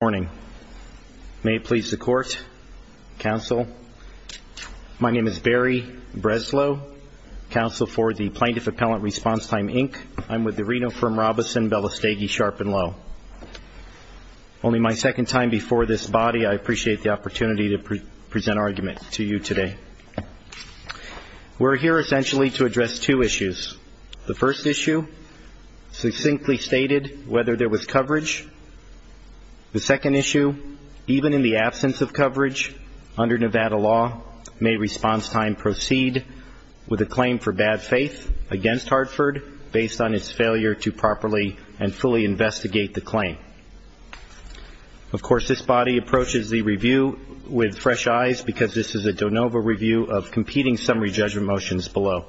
morning. May it please the court. Council. My name is barry Breslow, counsel for the Plaintiff Appellant Response Time Inc. I'm with the Reno firm Robison Bellestage Sharp and Low. Only my second time before this body, I appreciate the opportunity to present our argument to you today. We're here essentially to address two issues. The first issue, succinctly stated, whether there was coverage. The second issue, even in the absence of coverage, under Nevada law, may response time proceed with a claim for bad faith against Hartford, based on its failure to properly and fully investigate the claim. Of course this body approaches the review with fresh eyes, because this is a de novo review of competing summary judgment motions below.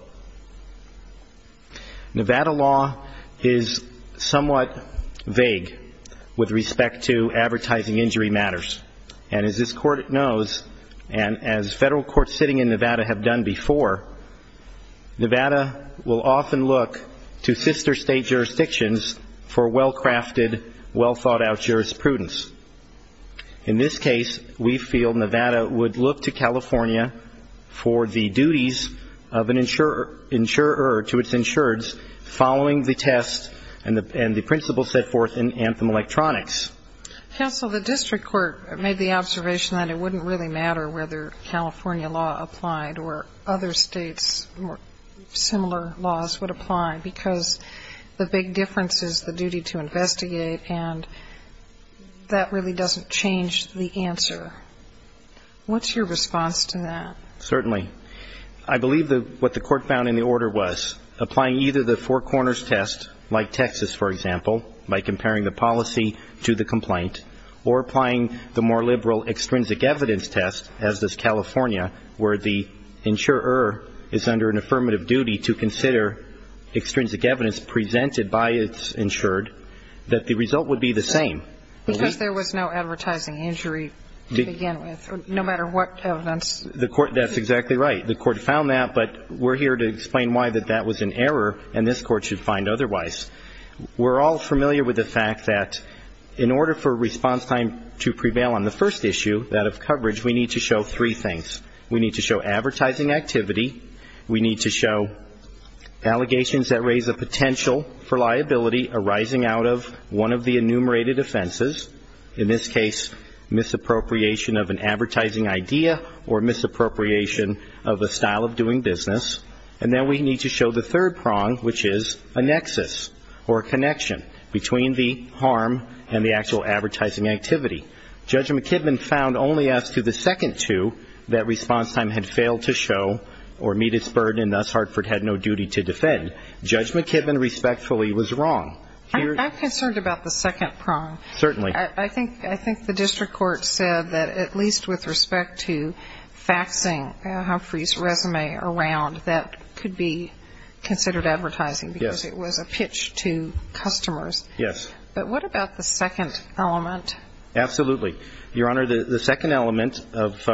Nevada law is somewhat vague with respect to advertising injury matters. And as this court knows, and as federal courts sitting in Nevada have done before, Nevada will often look to sister state jurisdictions for well-crafted, well-thought-out jurisprudence. In this case, we feel Nevada would look to California for the duties of an insurer to its insureds following the test and the principles set forth in Anthem Electronics. Counsel, the district court made the observation that it wouldn't really matter whether California law applied or other states' similar laws would apply, because the big difference is the duty to investigate, and that really doesn't change the answer. What's your response to that? Certainly. I believe what the court found in the order was, applying either the four corners test, like Texas, for example, by comparing the policy to the complaint, or applying the more liberal extrinsic evidence test, as does California, where the insurer is under an affirmative duty to consider extrinsic evidence presented by its insured, that the result would be the same. Because there was no advertising injury to begin with, no matter what evidence. That's exactly right. The court found that, but we're here to explain why that that was an error and this court should find otherwise. We're all familiar with the fact that in order for response time to prevail on the first issue, that of coverage, we need to show three things. We need to show advertising activity, we need to show allegations that raise the potential for liability arising out of one of the enumerated offenses, in this case, misappropriation of an advertising idea or misappropriation of a style of doing business, and then we need to show the third prong, which is a nexus or a connection between the harm and the actual advertising activity. Judge McKibben found only as to the second two that response time had failed to show or meet its burden and thus Hartford had no duty to defend. Judge McKibben respectfully was wrong. I'm concerned about the second prong. Certainly. I think the district court said that at least with respect to faxing Humphrey's resume around, that could be considered advertising because it was a pitch to customers. Yes. But what about the second element? Absolutely. Your Honor, the second element of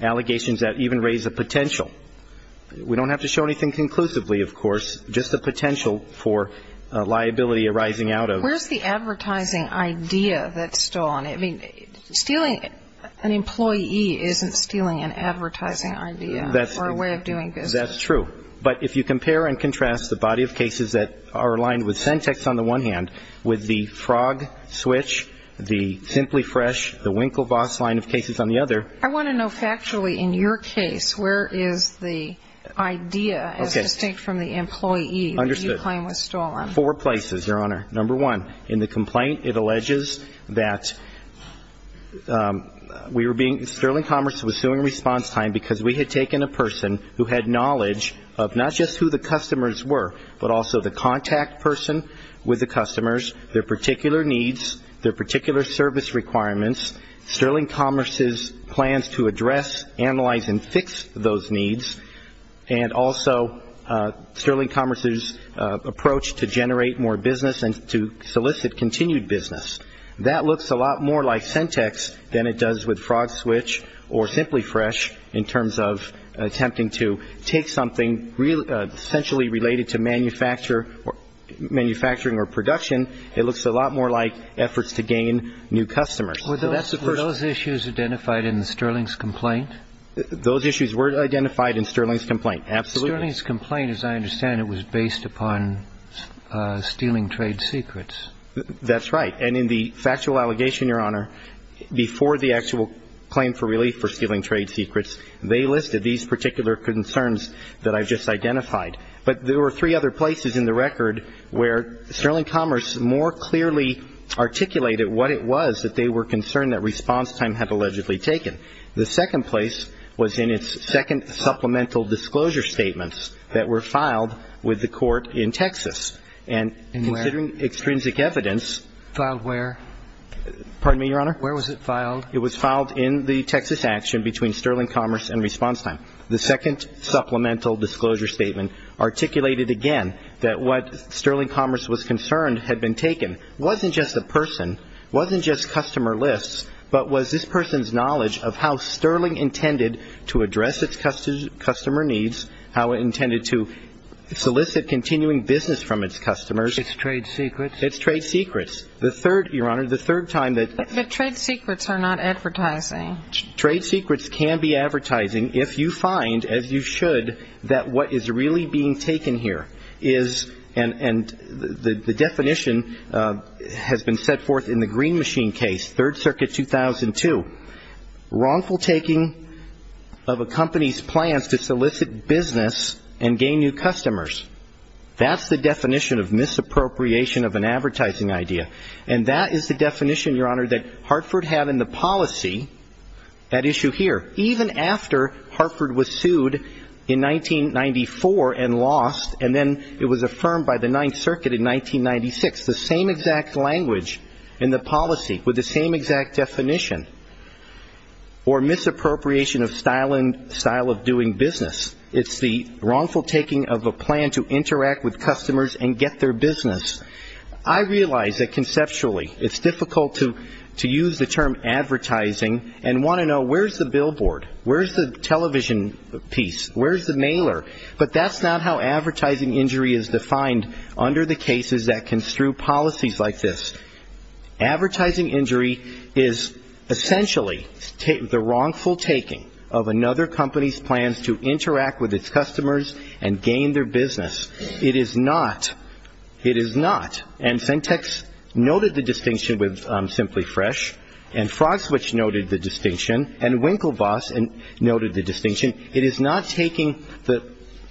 allegations that even raise a potential, we don't have to show anything conclusively, of course, just the potential for liability arising out of Where's the advertising idea that's still on it? I mean, stealing an employee isn't stealing an advertising idea or a way of doing business. That's true. But if you compare and contrast the body of cases that are aligned with the frog switch, the Simply Fresh, the Winklevoss line of cases on the other I want to know factually in your case, where is the idea as distinct from the employee that you claim was stolen? Four places, Your Honor. Number one, in the complaint it alleges that we were being Sterling Commerce was suing response time because we had taken a person who had knowledge of not just who the customers were, but also the contact person with the customers, their particular needs, their particular service requirements, Sterling Commerce's plans to address, analyze, and fix those needs, and also Sterling Commerce's approach to generate more business and to solicit continued business. That looks a lot more like Sentex than it does with Frog Switch or Simply Fresh in terms of attempting to take something essentially related to manufacturing or production. It looks a lot more like efforts to gain new customers. Were those issues identified in Sterling's complaint? Those issues were identified in Sterling's complaint, absolutely. Sterling's complaint, as I understand it, was based upon stealing trade secrets. That's right. And in the factual allegation, Your Honor, before the actual claim for stealing trade secrets, they listed these particular concerns that I've just identified. But there were three other places in the record where Sterling Commerce more clearly articulated what it was that they were concerned that response time had allegedly taken. The second place was in its second supplemental disclosure statements that were filed with the court in Texas. And where? And considering extrinsic evidence. Filed where? Pardon me, Your Honor? Where was it filed? It was filed in the Texas action between Sterling Commerce and response time. The second supplemental disclosure statement articulated again that what Sterling Commerce was concerned had been taken. It wasn't just the person. It wasn't just customer lists. But was this person's knowledge of how Sterling intended to address its customer needs, how it intended to solicit continuing business from its customers. Its trade secrets. Its trade secrets. The third, Your Honor, the third time that But trade secrets are not advertising. Trade secrets can be advertising if you find, as you should, that what is really being taken here is, and the definition has been set forth in the Green Machine case, Third Circuit 2002, wrongful taking of a company's plans to solicit business and gain new customers. That's the definition of misappropriation of an advertising idea. And that is the definition, Your Honor, that Hartford had in the policy, that issue here, even after Hartford was sued in 1994 and lost, and then it was affirmed by the Ninth Circuit in 1996. The same exact language in the policy with the same exact definition. Or misappropriation of style and style of doing business. It's the wrongful taking of a plan to interact with customers and get their business. I realize that conceptually it's difficult to use the term advertising and want to know where's the billboard, where's the television piece, where's the mailer. But that's not how advertising injury is defined under the cases that construe policies like this. Advertising injury is essentially the wrongful taking of another company's plans to interact with its customers and gain their business. It is not. It is not. And Sentex noted the distinction with Simply Fresh. And Frogswitch noted the distinction. And Winklevoss noted the distinction. It is not taking the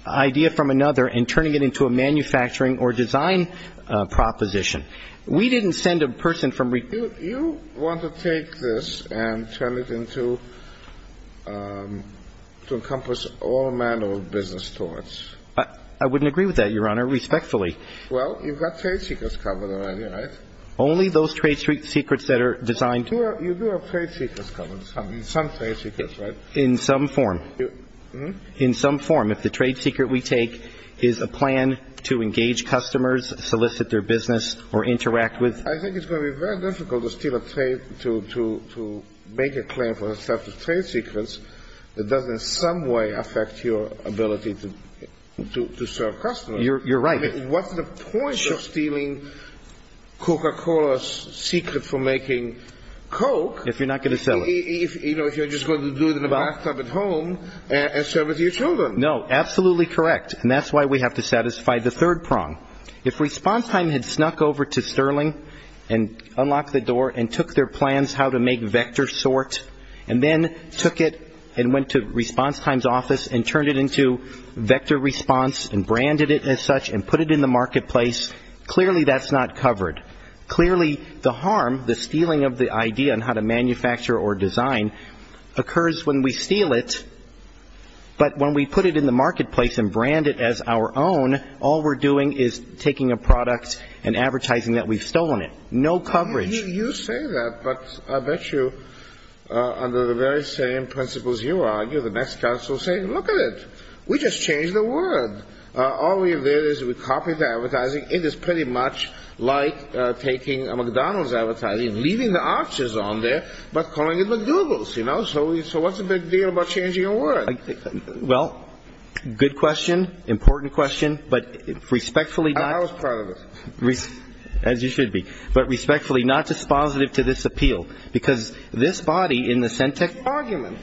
idea from another and turning it into a manufacturing or design proposition. We didn't send a person from Re- You want to take this and turn it into, to encompass all manner of business towards. I wouldn't agree with that, Your Honor, respectfully. Well, you've got trade secrets covered already, right? Only those trade secrets that are designed- You do have trade secrets covered, some trade secrets, right? In some form. In some form. If the trade secret we take is a plan to engage customers, solicit their business, or interact with- I think it's going to be very difficult to steal a trade, to make a claim for a set of trade secrets that doesn't in some way affect your ability to serve customers. You're right. What's the point of stealing Coca-Cola's secret for making Coke- If you're not going to sell it. If you're just going to do it in the bathtub at home and serve it to your children. No, absolutely correct. And that's why we have to satisfy the third prong. If Response Time had snuck over to Sterling and unlocked the door and took their plans how to make VectorSort and then took it and went to Response Time's office and turned it into VectorResponse and branded it as such and put it in the marketplace, clearly that's not covered. Clearly the harm, the stealing of the idea on how to manufacture or design occurs when we steal it, but when we put it in the marketplace and brand it as our own, all we're doing is taking a product and advertising that we've stolen it. No coverage. You say that, but I bet you under the very same principles you argue, the next counsel will say, Look at it. We just changed the word. All we did is we copied the advertising. It is pretty much like taking a McDonald's advertising, leaving the arches on there, but calling it McDougal's. So what's the big deal about changing a word? Well, good question, important question, but respectfully- I was part of it. As you should be. But respectfully, not dispositive to this appeal, because this body in the Centech- Argument.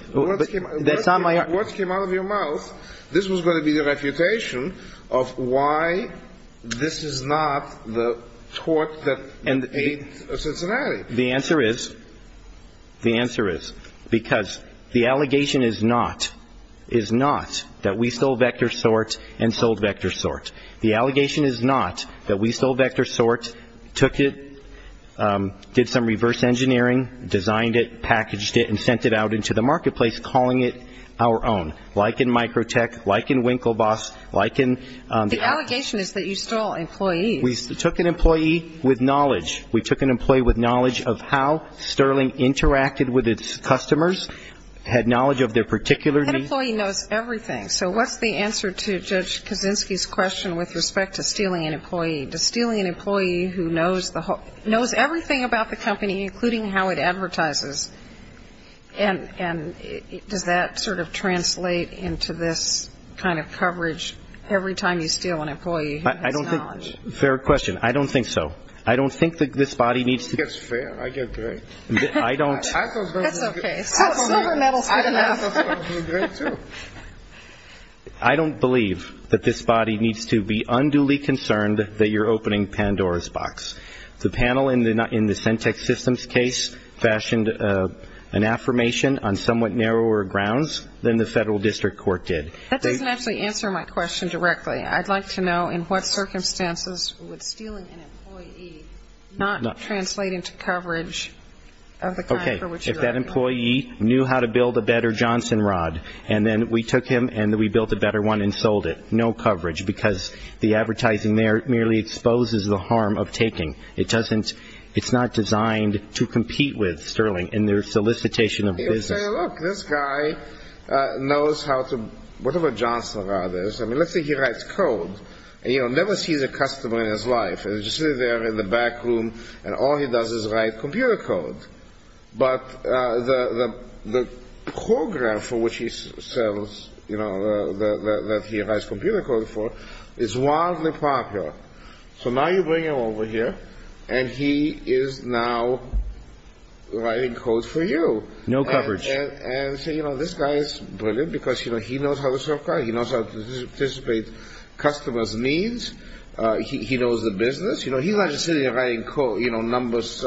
That's not my argument. Words came out of your mouth. This was going to be the refutation of why this is not the tort that ate Cincinnati. The answer is because the allegation is not that we stole VectorSort and sold VectorSort. The allegation is not that we stole VectorSort, took it, did some reverse engineering, designed it, packaged it, and sent it out into the marketplace, calling it our own, like in Microtech, like in WinkleBoss, like in- The allegation is that you stole employees. We took an employee with knowledge. We took an employee with knowledge of how Sterling interacted with its customers, had knowledge of their particular needs. That employee knows everything. So what's the answer to Judge Kaczynski's question with respect to stealing an employee? Does stealing an employee who knows everything about the company, including how it advertises, and does that sort of translate into this kind of coverage every time you steal an employee? I don't think- Fair question. I don't think so. I don't think that this body needs- It's fair. I get that. I don't- That's okay. Silver medal's good enough. I don't believe that this body needs to be unduly concerned that you're opening Pandora's box. The panel in the Centex Systems case fashioned an affirmation on somewhat narrower grounds than the federal district court did. That doesn't actually answer my question directly. I'd like to know in what circumstances would stealing an employee not translate into coverage of the kind for which you- That employee knew how to build a better Johnson rod, and then we took him and we built a better one and sold it. No coverage because the advertising there merely exposes the harm of taking. It doesn't- It's not designed to compete with stealing in their solicitation of business. Look, this guy knows how to- Whatever Johnson rod is- I mean, let's say he writes code. He'll never see the customer in his life. He'll just sit there in the back room, and all he does is write computer code. But the program for which he sells, you know, that he writes computer code for is wildly popular. So now you bring him over here, and he is now writing code for you. No coverage. And so, you know, this guy is brilliant because, you know, he knows how to sell cars. He knows how to participate in customers' needs. He knows the business. You know, he's not just sitting there writing code, you know, numbers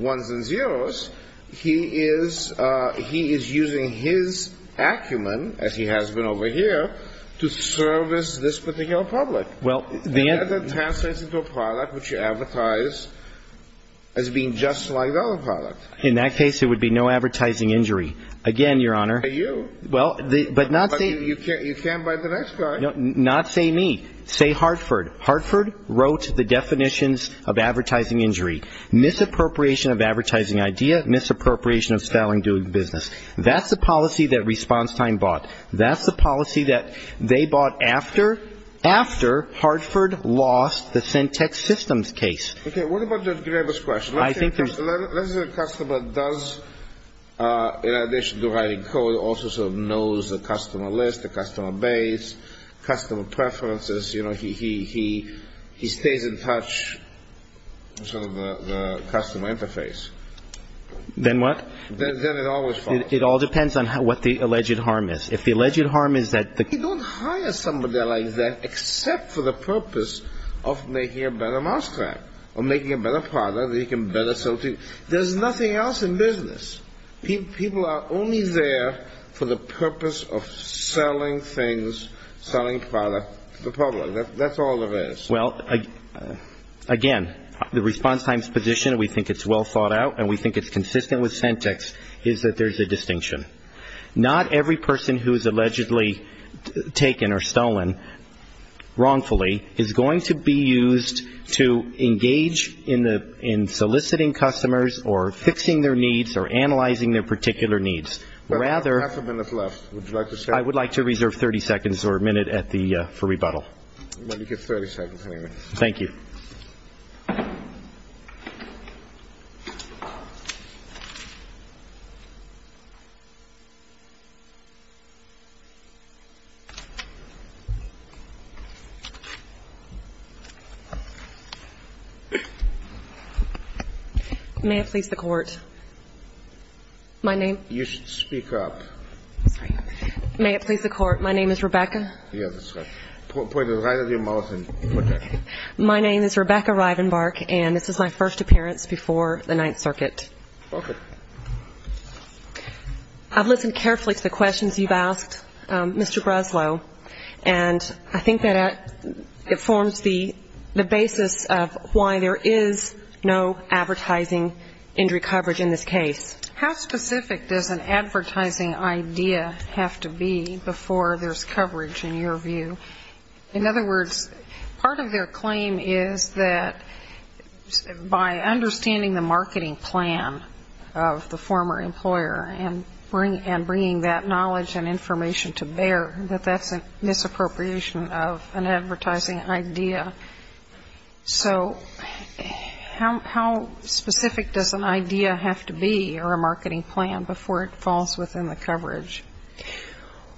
1s and 0s. He is using his acumen, as he has been over here, to service this particular public. Well, the- And that translates into a product which you advertise as being just like the other product. In that case, it would be no advertising injury. Again, Your Honor- By you. Well, but not- But you can't buy the next guy. Not say me. Say Hartford. Hartford wrote the definitions of advertising injury, misappropriation of advertising idea, misappropriation of style in doing business. That's the policy that Response Time bought. That's the policy that they bought after Hartford lost the Centex Systems case. Okay. What about Judge Graber's question? I think that- Let's say the customer does, in addition to writing code, also sort of knows the customer list, the customer base, customer preferences. You know, he stays in touch with sort of the customer interface. Then what? Then it always falls. It all depends on what the alleged harm is. If the alleged harm is that- You don't hire somebody like that except for the purpose of making a better mouse track or making a better product that he can better sell to you. There's nothing else in business. People are only there for the purpose of selling things, selling product to the public. That's all there is. Well, again, the Response Time's position, we think it's well thought out, and we think it's consistent with Centex, is that there's a distinction. Not every person who is allegedly taken or stolen wrongfully is going to be used to engage in soliciting customers or fixing their needs or analyzing their particular needs. Rather- We have half a minute left. Would you like to stay? I would like to reserve 30 seconds or a minute for rebuttal. Well, you get 30 seconds, anyway. Thank you. May it please the Court. My name- You should speak up. I'm sorry. May it please the Court. My name is Rebecca. Yes, that's right. Put it right at your mouth and put it. My name is Rebecca Rivenbark, and this is my first appearance before the Ninth Circuit. Okay. I've listened carefully to the questions you've asked, Mr. Breslow, and I think that it forms the basis of why there is no advertising injury coverage in this case. How specific does an advertising idea have to be before there's coverage, in your view? In other words, part of their claim is that by understanding the marketing plan of the former employer and bringing that knowledge and information to bear, that that's a misappropriation of an advertising idea. So how specific does an idea have to be or a marketing plan before it falls within the coverage?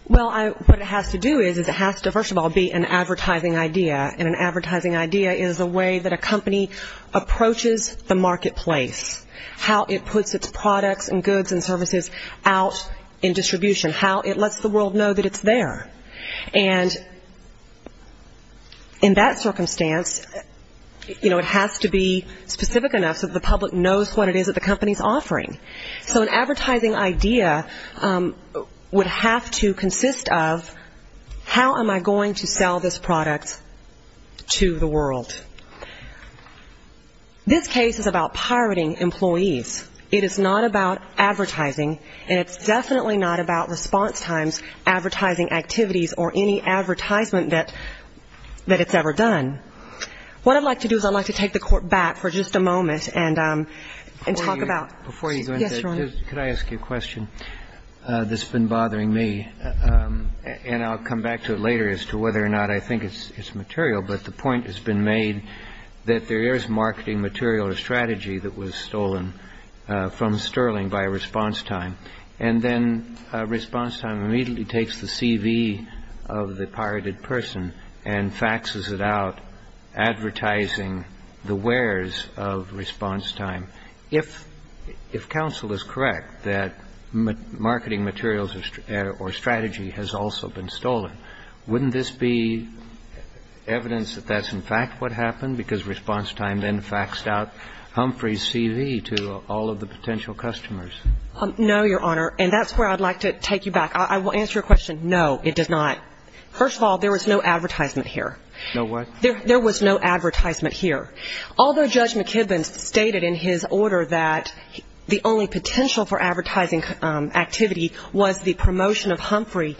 Well, what it has to do is it has to, first of all, be an advertising idea, and an advertising idea is a way that a company approaches the marketplace, how it puts its products and goods and services out in distribution, how it lets the world know that it's there. And in that circumstance, you know, it has to be specific enough so that the public knows what it is that the company is offering. So an advertising idea would have to consist of how am I going to sell this product to the world? This case is about pirating employees. It is not about advertising, and it's definitely not about response times, advertising activities, or any advertisement that it's ever done. What I'd like to do is I'd like to take the Court back for just a moment and talk about. Before you go into it, could I ask you a question that's been bothering me? And I'll come back to it later as to whether or not I think it's material, but the point has been made that there is marketing material or strategy that was stolen from Sterling by a response time, and then response time immediately takes the CV of the pirated person and faxes it out, advertising the wares of response time. If counsel is correct that marketing materials or strategy has also been stolen, wouldn't this be evidence that that's, in fact, what happened because response time then faxed out Humphrey's CV to all of the potential customers? No, Your Honor. And that's where I'd like to take you back. I will answer your question. No, it does not. First of all, there was no advertisement here. No what? There was no advertisement here. Although Judge McKibben stated in his order that the only potential for advertising activity was the promotion of Humphrey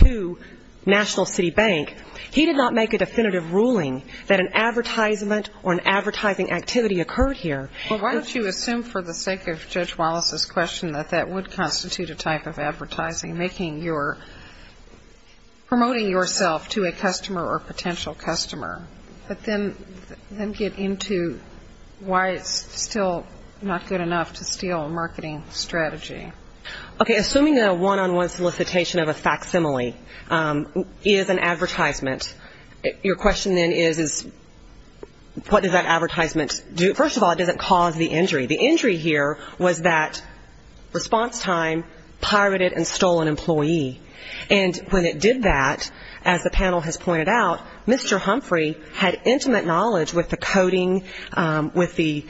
to National City Bank, he did not make a definitive ruling that an advertisement or an advertising activity occurred here. Well, why don't you assume for the sake of Judge Wallace's question that that would constitute a type of advertising, making your, promoting yourself to a customer or potential customer, but then get into why it's still not good enough to steal a marketing strategy. Okay. Assuming a one-on-one solicitation of a facsimile is an advertisement, your question then is what does that advertisement do? First of all, it doesn't cause the injury. The injury here was that response time pirated and stole an employee. And when it did that, as the panel has pointed out, Mr. Humphrey had intimate knowledge with the coding, with the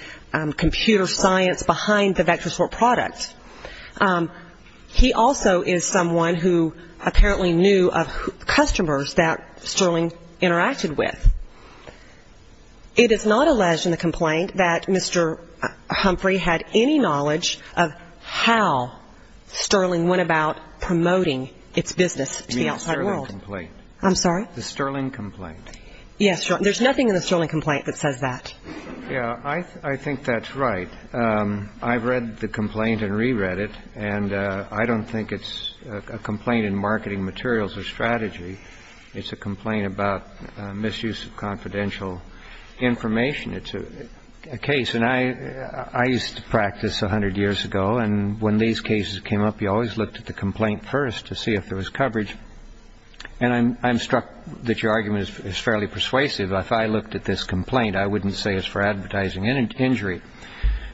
computer science behind the VectorSort product. He also is someone who apparently knew of customers that Sterling interacted with. It is not alleged in the complaint that Mr. Humphrey had any knowledge of how Sterling went about promoting its business to the outside world. You mean the Sterling complaint? I'm sorry? The Sterling complaint. Yes. There's nothing in the Sterling complaint that says that. Yeah. I think that's right. I've read the complaint and reread it, and I don't think it's a complaint in marketing materials or strategy. It's a complaint about misuse of confidential information. It's a case. I used to practice 100 years ago, and when these cases came up, you always looked at the complaint first to see if there was coverage. And I'm struck that your argument is fairly persuasive. If I looked at this complaint, I wouldn't say it's for advertising injury.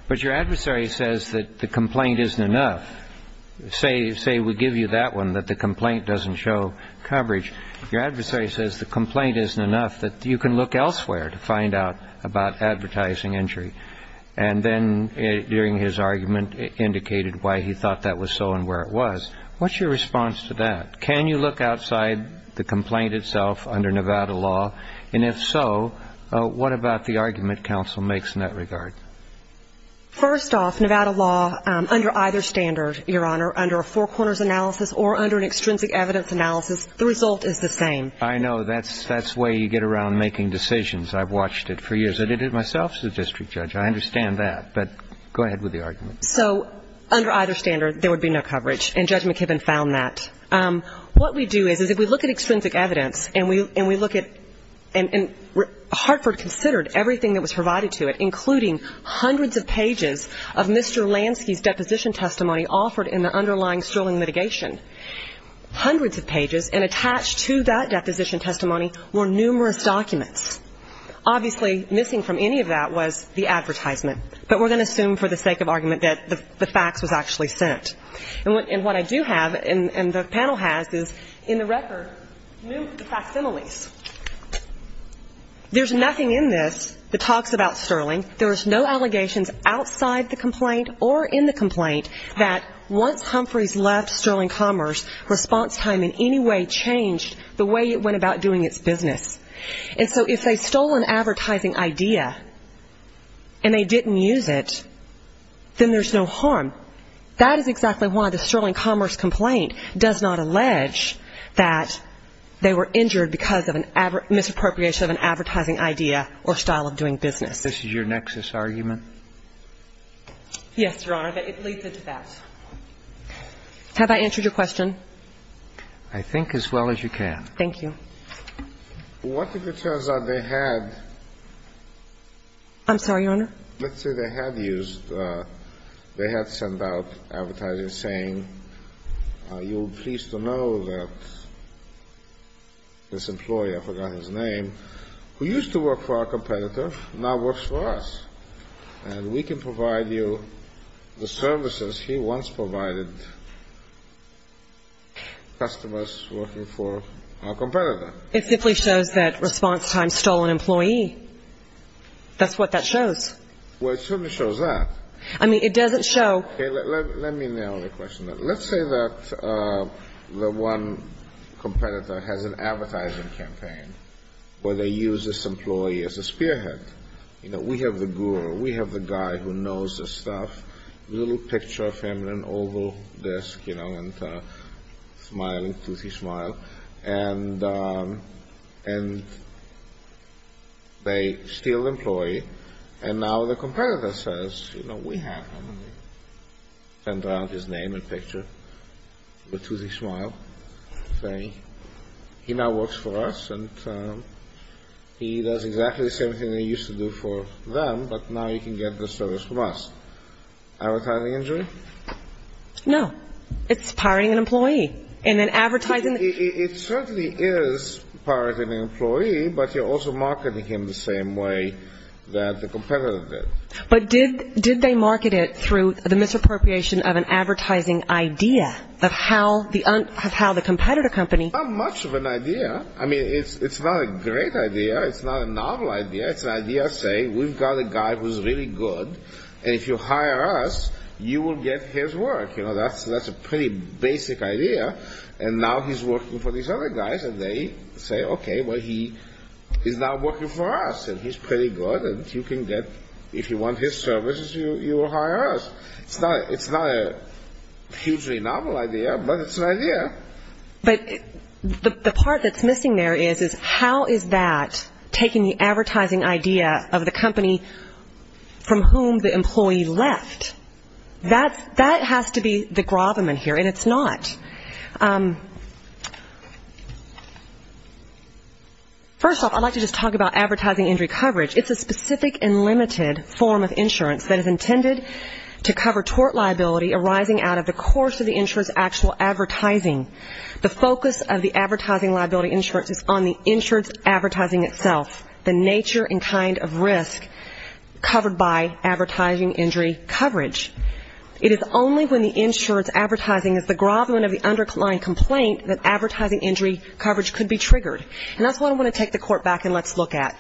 But your adversary says that the complaint isn't enough. Say we give you that one, that the complaint doesn't show coverage. Your adversary says the complaint isn't enough, that you can look elsewhere to find out about advertising injury. And then during his argument, it indicated why he thought that was so and where it was. What's your response to that? Can you look outside the complaint itself under Nevada law? And if so, what about the argument counsel makes in that regard? First off, Nevada law, under either standard, Your Honor, under a four corners analysis or under an extrinsic evidence analysis, the result is the same. I know. That's the way you get around making decisions. I've watched it for years. I did it myself as a district judge. I understand that. But go ahead with the argument. So under either standard, there would be no coverage, and Judge McKibben found that. What we do is if we look at extrinsic evidence and we look at and Hartford considered everything that was provided to it, including hundreds of pages of Mr. Lansky's deposition testimony offered in the underlying sterling mitigation, hundreds of pages, and attached to that deposition testimony were numerous documents. Obviously, missing from any of that was the advertisement. But we're going to assume for the sake of argument that the fax was actually sent. And what I do have and the panel has is in the record, the facsimiles. There's nothing in this that talks about sterling. There was no allegations outside the complaint or in the complaint that once Humphreys left Sterling Commerce, response time in any way changed the way it went about doing its business. And so if they stole an advertising idea and they didn't use it, then there's no harm. That is exactly why the Sterling Commerce complaint does not allege that they were injured because of a misappropriation of an advertising idea or style of doing business. This is your nexus argument? Yes, Your Honor. It leads into that. Have I answered your question? I think as well as you can. Thank you. Well, what if it turns out they had? I'm sorry, Your Honor? Let's say they had used, they had sent out advertising saying, you will be pleased to know that this employee, I forgot his name, who used to work for our competitor now works for us. And we can provide you the services he once provided customers working for our competitor. It simply shows that response time stole an employee. That's what that shows. Well, it certainly shows that. I mean, it doesn't show. Okay, let me nail the question. Let's say that the one competitor has an advertising campaign where they use this employee as a spearhead. You know, we have the guru. We have the guy who knows the stuff. A little picture of him on an oval desk, you know, and smiling, toothy smile. And they steal the employee. And now the competitor says, you know, we have him. Send out his name and picture with a toothy smile saying, he now works for us and he does exactly the same thing he used to do for them, but now he can get the service from us. Advertising injury? No. It's pirating an employee. It certainly is pirating an employee, but you're also marketing him the same way that the competitor did. But did they market it through the misappropriation of an advertising idea of how the competitor company It's not much of an idea. I mean, it's not a great idea. It's not a novel idea. It's an idea saying, we've got a guy who's really good, and if you hire us, you will get his work. You know, that's a pretty basic idea. And now he's working for these other guys and they say, okay, well, he is now working for us, and he's pretty good and you can get, if you want his services, you will hire us. It's not a hugely novel idea, but it's an idea. But the part that's missing there is, how is that taking the advertising idea of the company from whom the employee left? That has to be the gravamen here, and it's not. First off, I'd like to just talk about advertising injury coverage. It's a specific and limited form of insurance that is intended to cover tort liability arising out of the course of the The focus of the advertising liability insurance is on the insurance advertising itself, the nature and kind of risk covered by advertising injury coverage. It is only when the insurance advertising is the gravamen of the underlying complaint that advertising injury coverage could be triggered. And that's what I want to take the court back and let's look at.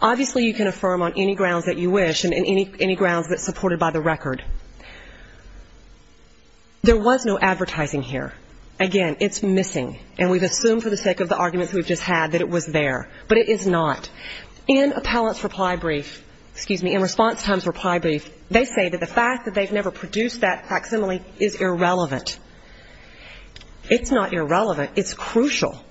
Obviously, you can affirm on any grounds that you wish and any grounds that's supported by the record. There was no advertising here. Again, it's missing, and we've assumed for the sake of the arguments we've just had that it was there, but it is not. In appellant's reply brief, excuse me, in response time's reply brief, they say that the fact that they've never produced that facsimile is irrelevant. It's not irrelevant, it's crucial.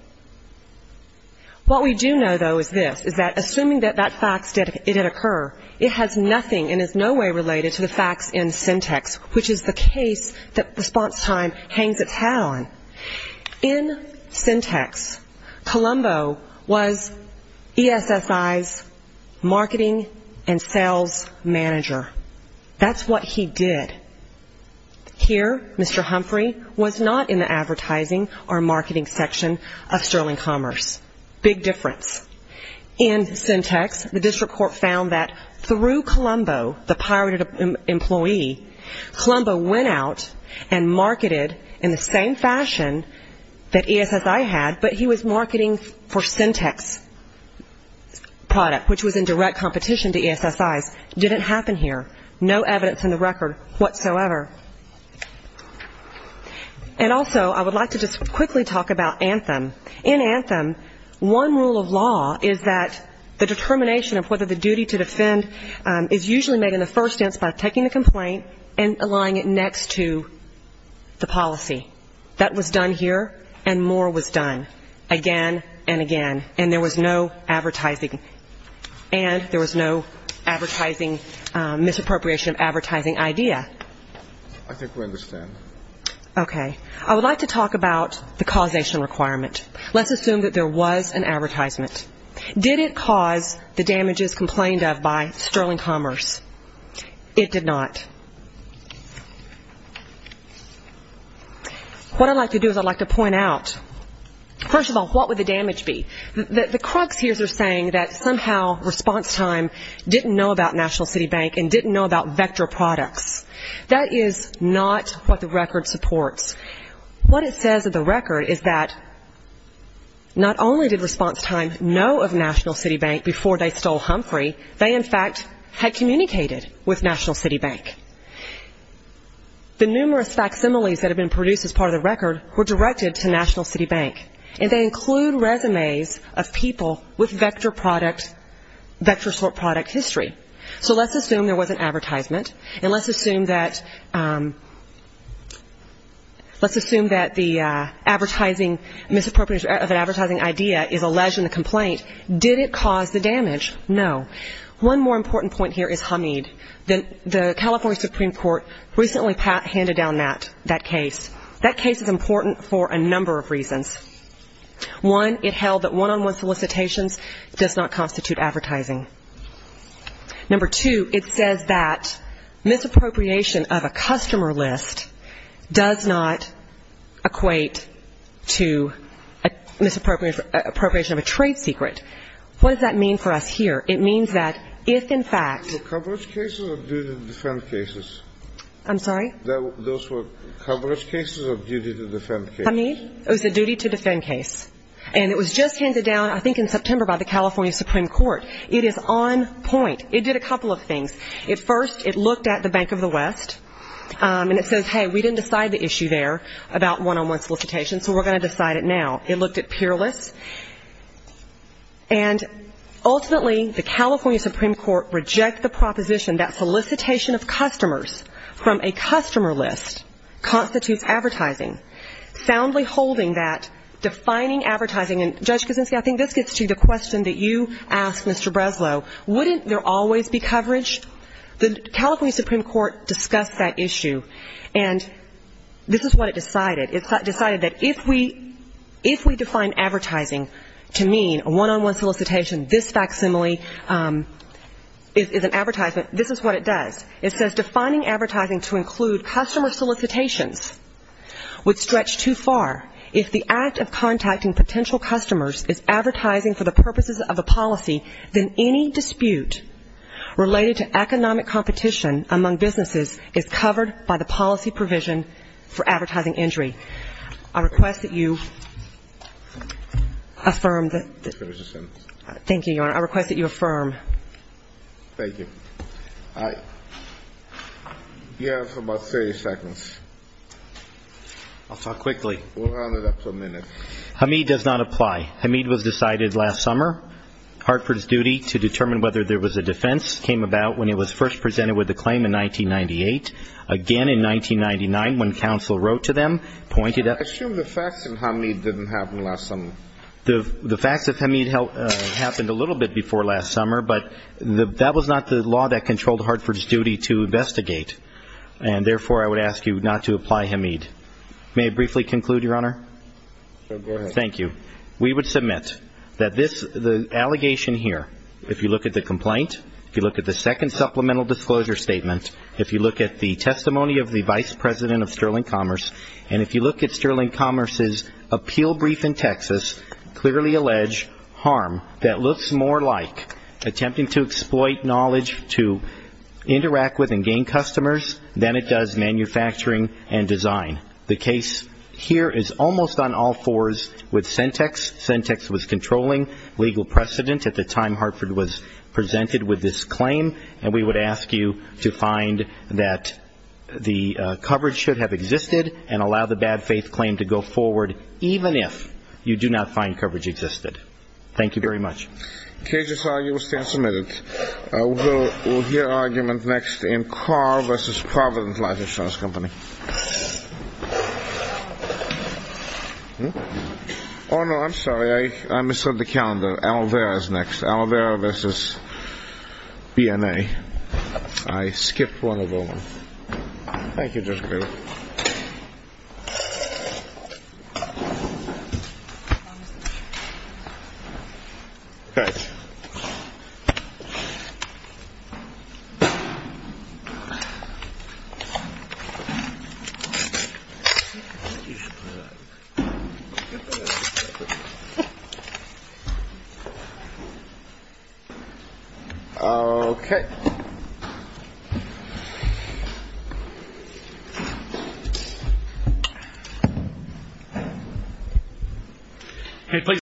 What we do know, though, is this, is that assuming that that fact did occur, it has nothing and is no way related to the facts in syntax, which is the case that response time hangs its hat on. In syntax, Colombo was ESSI's marketing and sales manager. That's what he did. Here, Mr. Humphrey was not in the advertising or marketing section of Sterling Commerce. Big difference. In syntax, the district court found that through Colombo, the pirated employee, Colombo went out and marketed in the same fashion that ESSI had, but he was marketing for syntax product, which was in direct competition to ESSI's. Didn't happen here. No evidence in the record whatsoever. And also, I would like to just quickly talk about Anthem. In Anthem, one rule of law is that the determination of whether the duty to defend is usually made in the first instance by taking the complaint and aligning it next to the policy. That was done here, and more was done again and again, and there was no advertising and there was no advertising, misappropriation of advertising idea. I think we understand. Okay. I would like to talk about the causation requirement. Let's assume that there was an advertisement. Did it cause the damages complained of by Sterling Commerce? It did not. What I'd like to do is I'd like to point out, first of all, what would the damage be? The crux here is they're saying that somehow response time didn't know about National City Bank and didn't know about Vector Products. That is not what the record supports. What it says in the record is that not only did response time know of National City Bank before they stole Humphrey, they, in fact, had communicated with National City Bank. The numerous facsimiles that have been produced as part of the record were directed to National City Bank, and they include resumes of people with Vector Sort product history. So let's assume there was an advertisement, and let's assume that the advertising, misappropriation of an advertising idea is alleged in the complaint. Did it cause the damage? No. One more important point here is Hamid. The California Supreme Court recently handed down that case. That case is important for a number of reasons. One, it held that one-on-one solicitations does not constitute advertising. Number two, it says that misappropriation of a customer list does not equate to misappropriation of a trade secret. What does that mean for us here? It means that if, in fact ---- Those were coverage cases or duty-to-defend cases? I'm sorry? Those were coverage cases or duty-to-defend cases? Hamid, it was a duty-to-defend case. And it was just handed down, I think, in September by the California Supreme Court. It is on point. It did a couple of things. First, it looked at the Bank of the West, and it says, hey, we didn't decide the issue there about one-on-one solicitations, so we're going to decide it now. It looked at peer lists. And ultimately, the California Supreme Court rejected the proposition that solicitation of customers from a customer list constitutes advertising. Soundly holding that, defining advertising. And, Judge Kuczynski, I think this gets to the question that you asked Mr. Breslow. Wouldn't there always be coverage? The California Supreme Court discussed that issue, and this is what it decided. It decided that if we define advertising to mean a one-on-one solicitation, this facsimile is an advertisement, this is what it does. It says defining advertising to include customer solicitations would stretch too far. If the act of contacting potential customers is advertising for the purposes of a policy, then any dispute related to economic competition among businesses is covered by the policy provision for advertising injury. I request that you affirm that. Thank you, Your Honor. I request that you affirm. Thank you. You have about 30 seconds. I'll talk quickly. We'll round it up to a minute. Hamid does not apply. Hamid was decided last summer. Hartford's duty to determine whether there was a defense came about when it was first presented with the claim in 1998. Again in 1999, when counsel wrote to them, pointed out the facts. I assume the facts in Hamid didn't happen last summer. The facts of Hamid happened a little bit before last summer, but that was not the law that controlled Hartford's duty to investigate, and therefore I would ask you not to apply Hamid. May I briefly conclude, Your Honor? Go ahead. Thank you. We would submit that the allegation here, if you look at the complaint, if you look at the second supplemental disclosure statement, if you look at the testimony of the Vice President of Sterling Commerce, and if you look at Sterling Commerce's appeal brief in Texas, clearly allege harm that looks more like attempting to exploit knowledge to interact with and gain customers than it does manufacturing and design. The case here is almost on all fours with Sentex. Sentex was controlling legal precedent at the time Hartford was presented with this claim, and we would ask you to find that the coverage should have existed and allow the bad faith claim to go forward, even if you do not find coverage existed. Thank you very much. The case is filed. You will stand submitted. We'll hear argument next in Carr v. Providence License Company. I misread the calendar. I thought Alvera was next. Alvera v. BNA. I skipped one of them. Thank you, Justice Breyer. Thank you. Okay. Okay.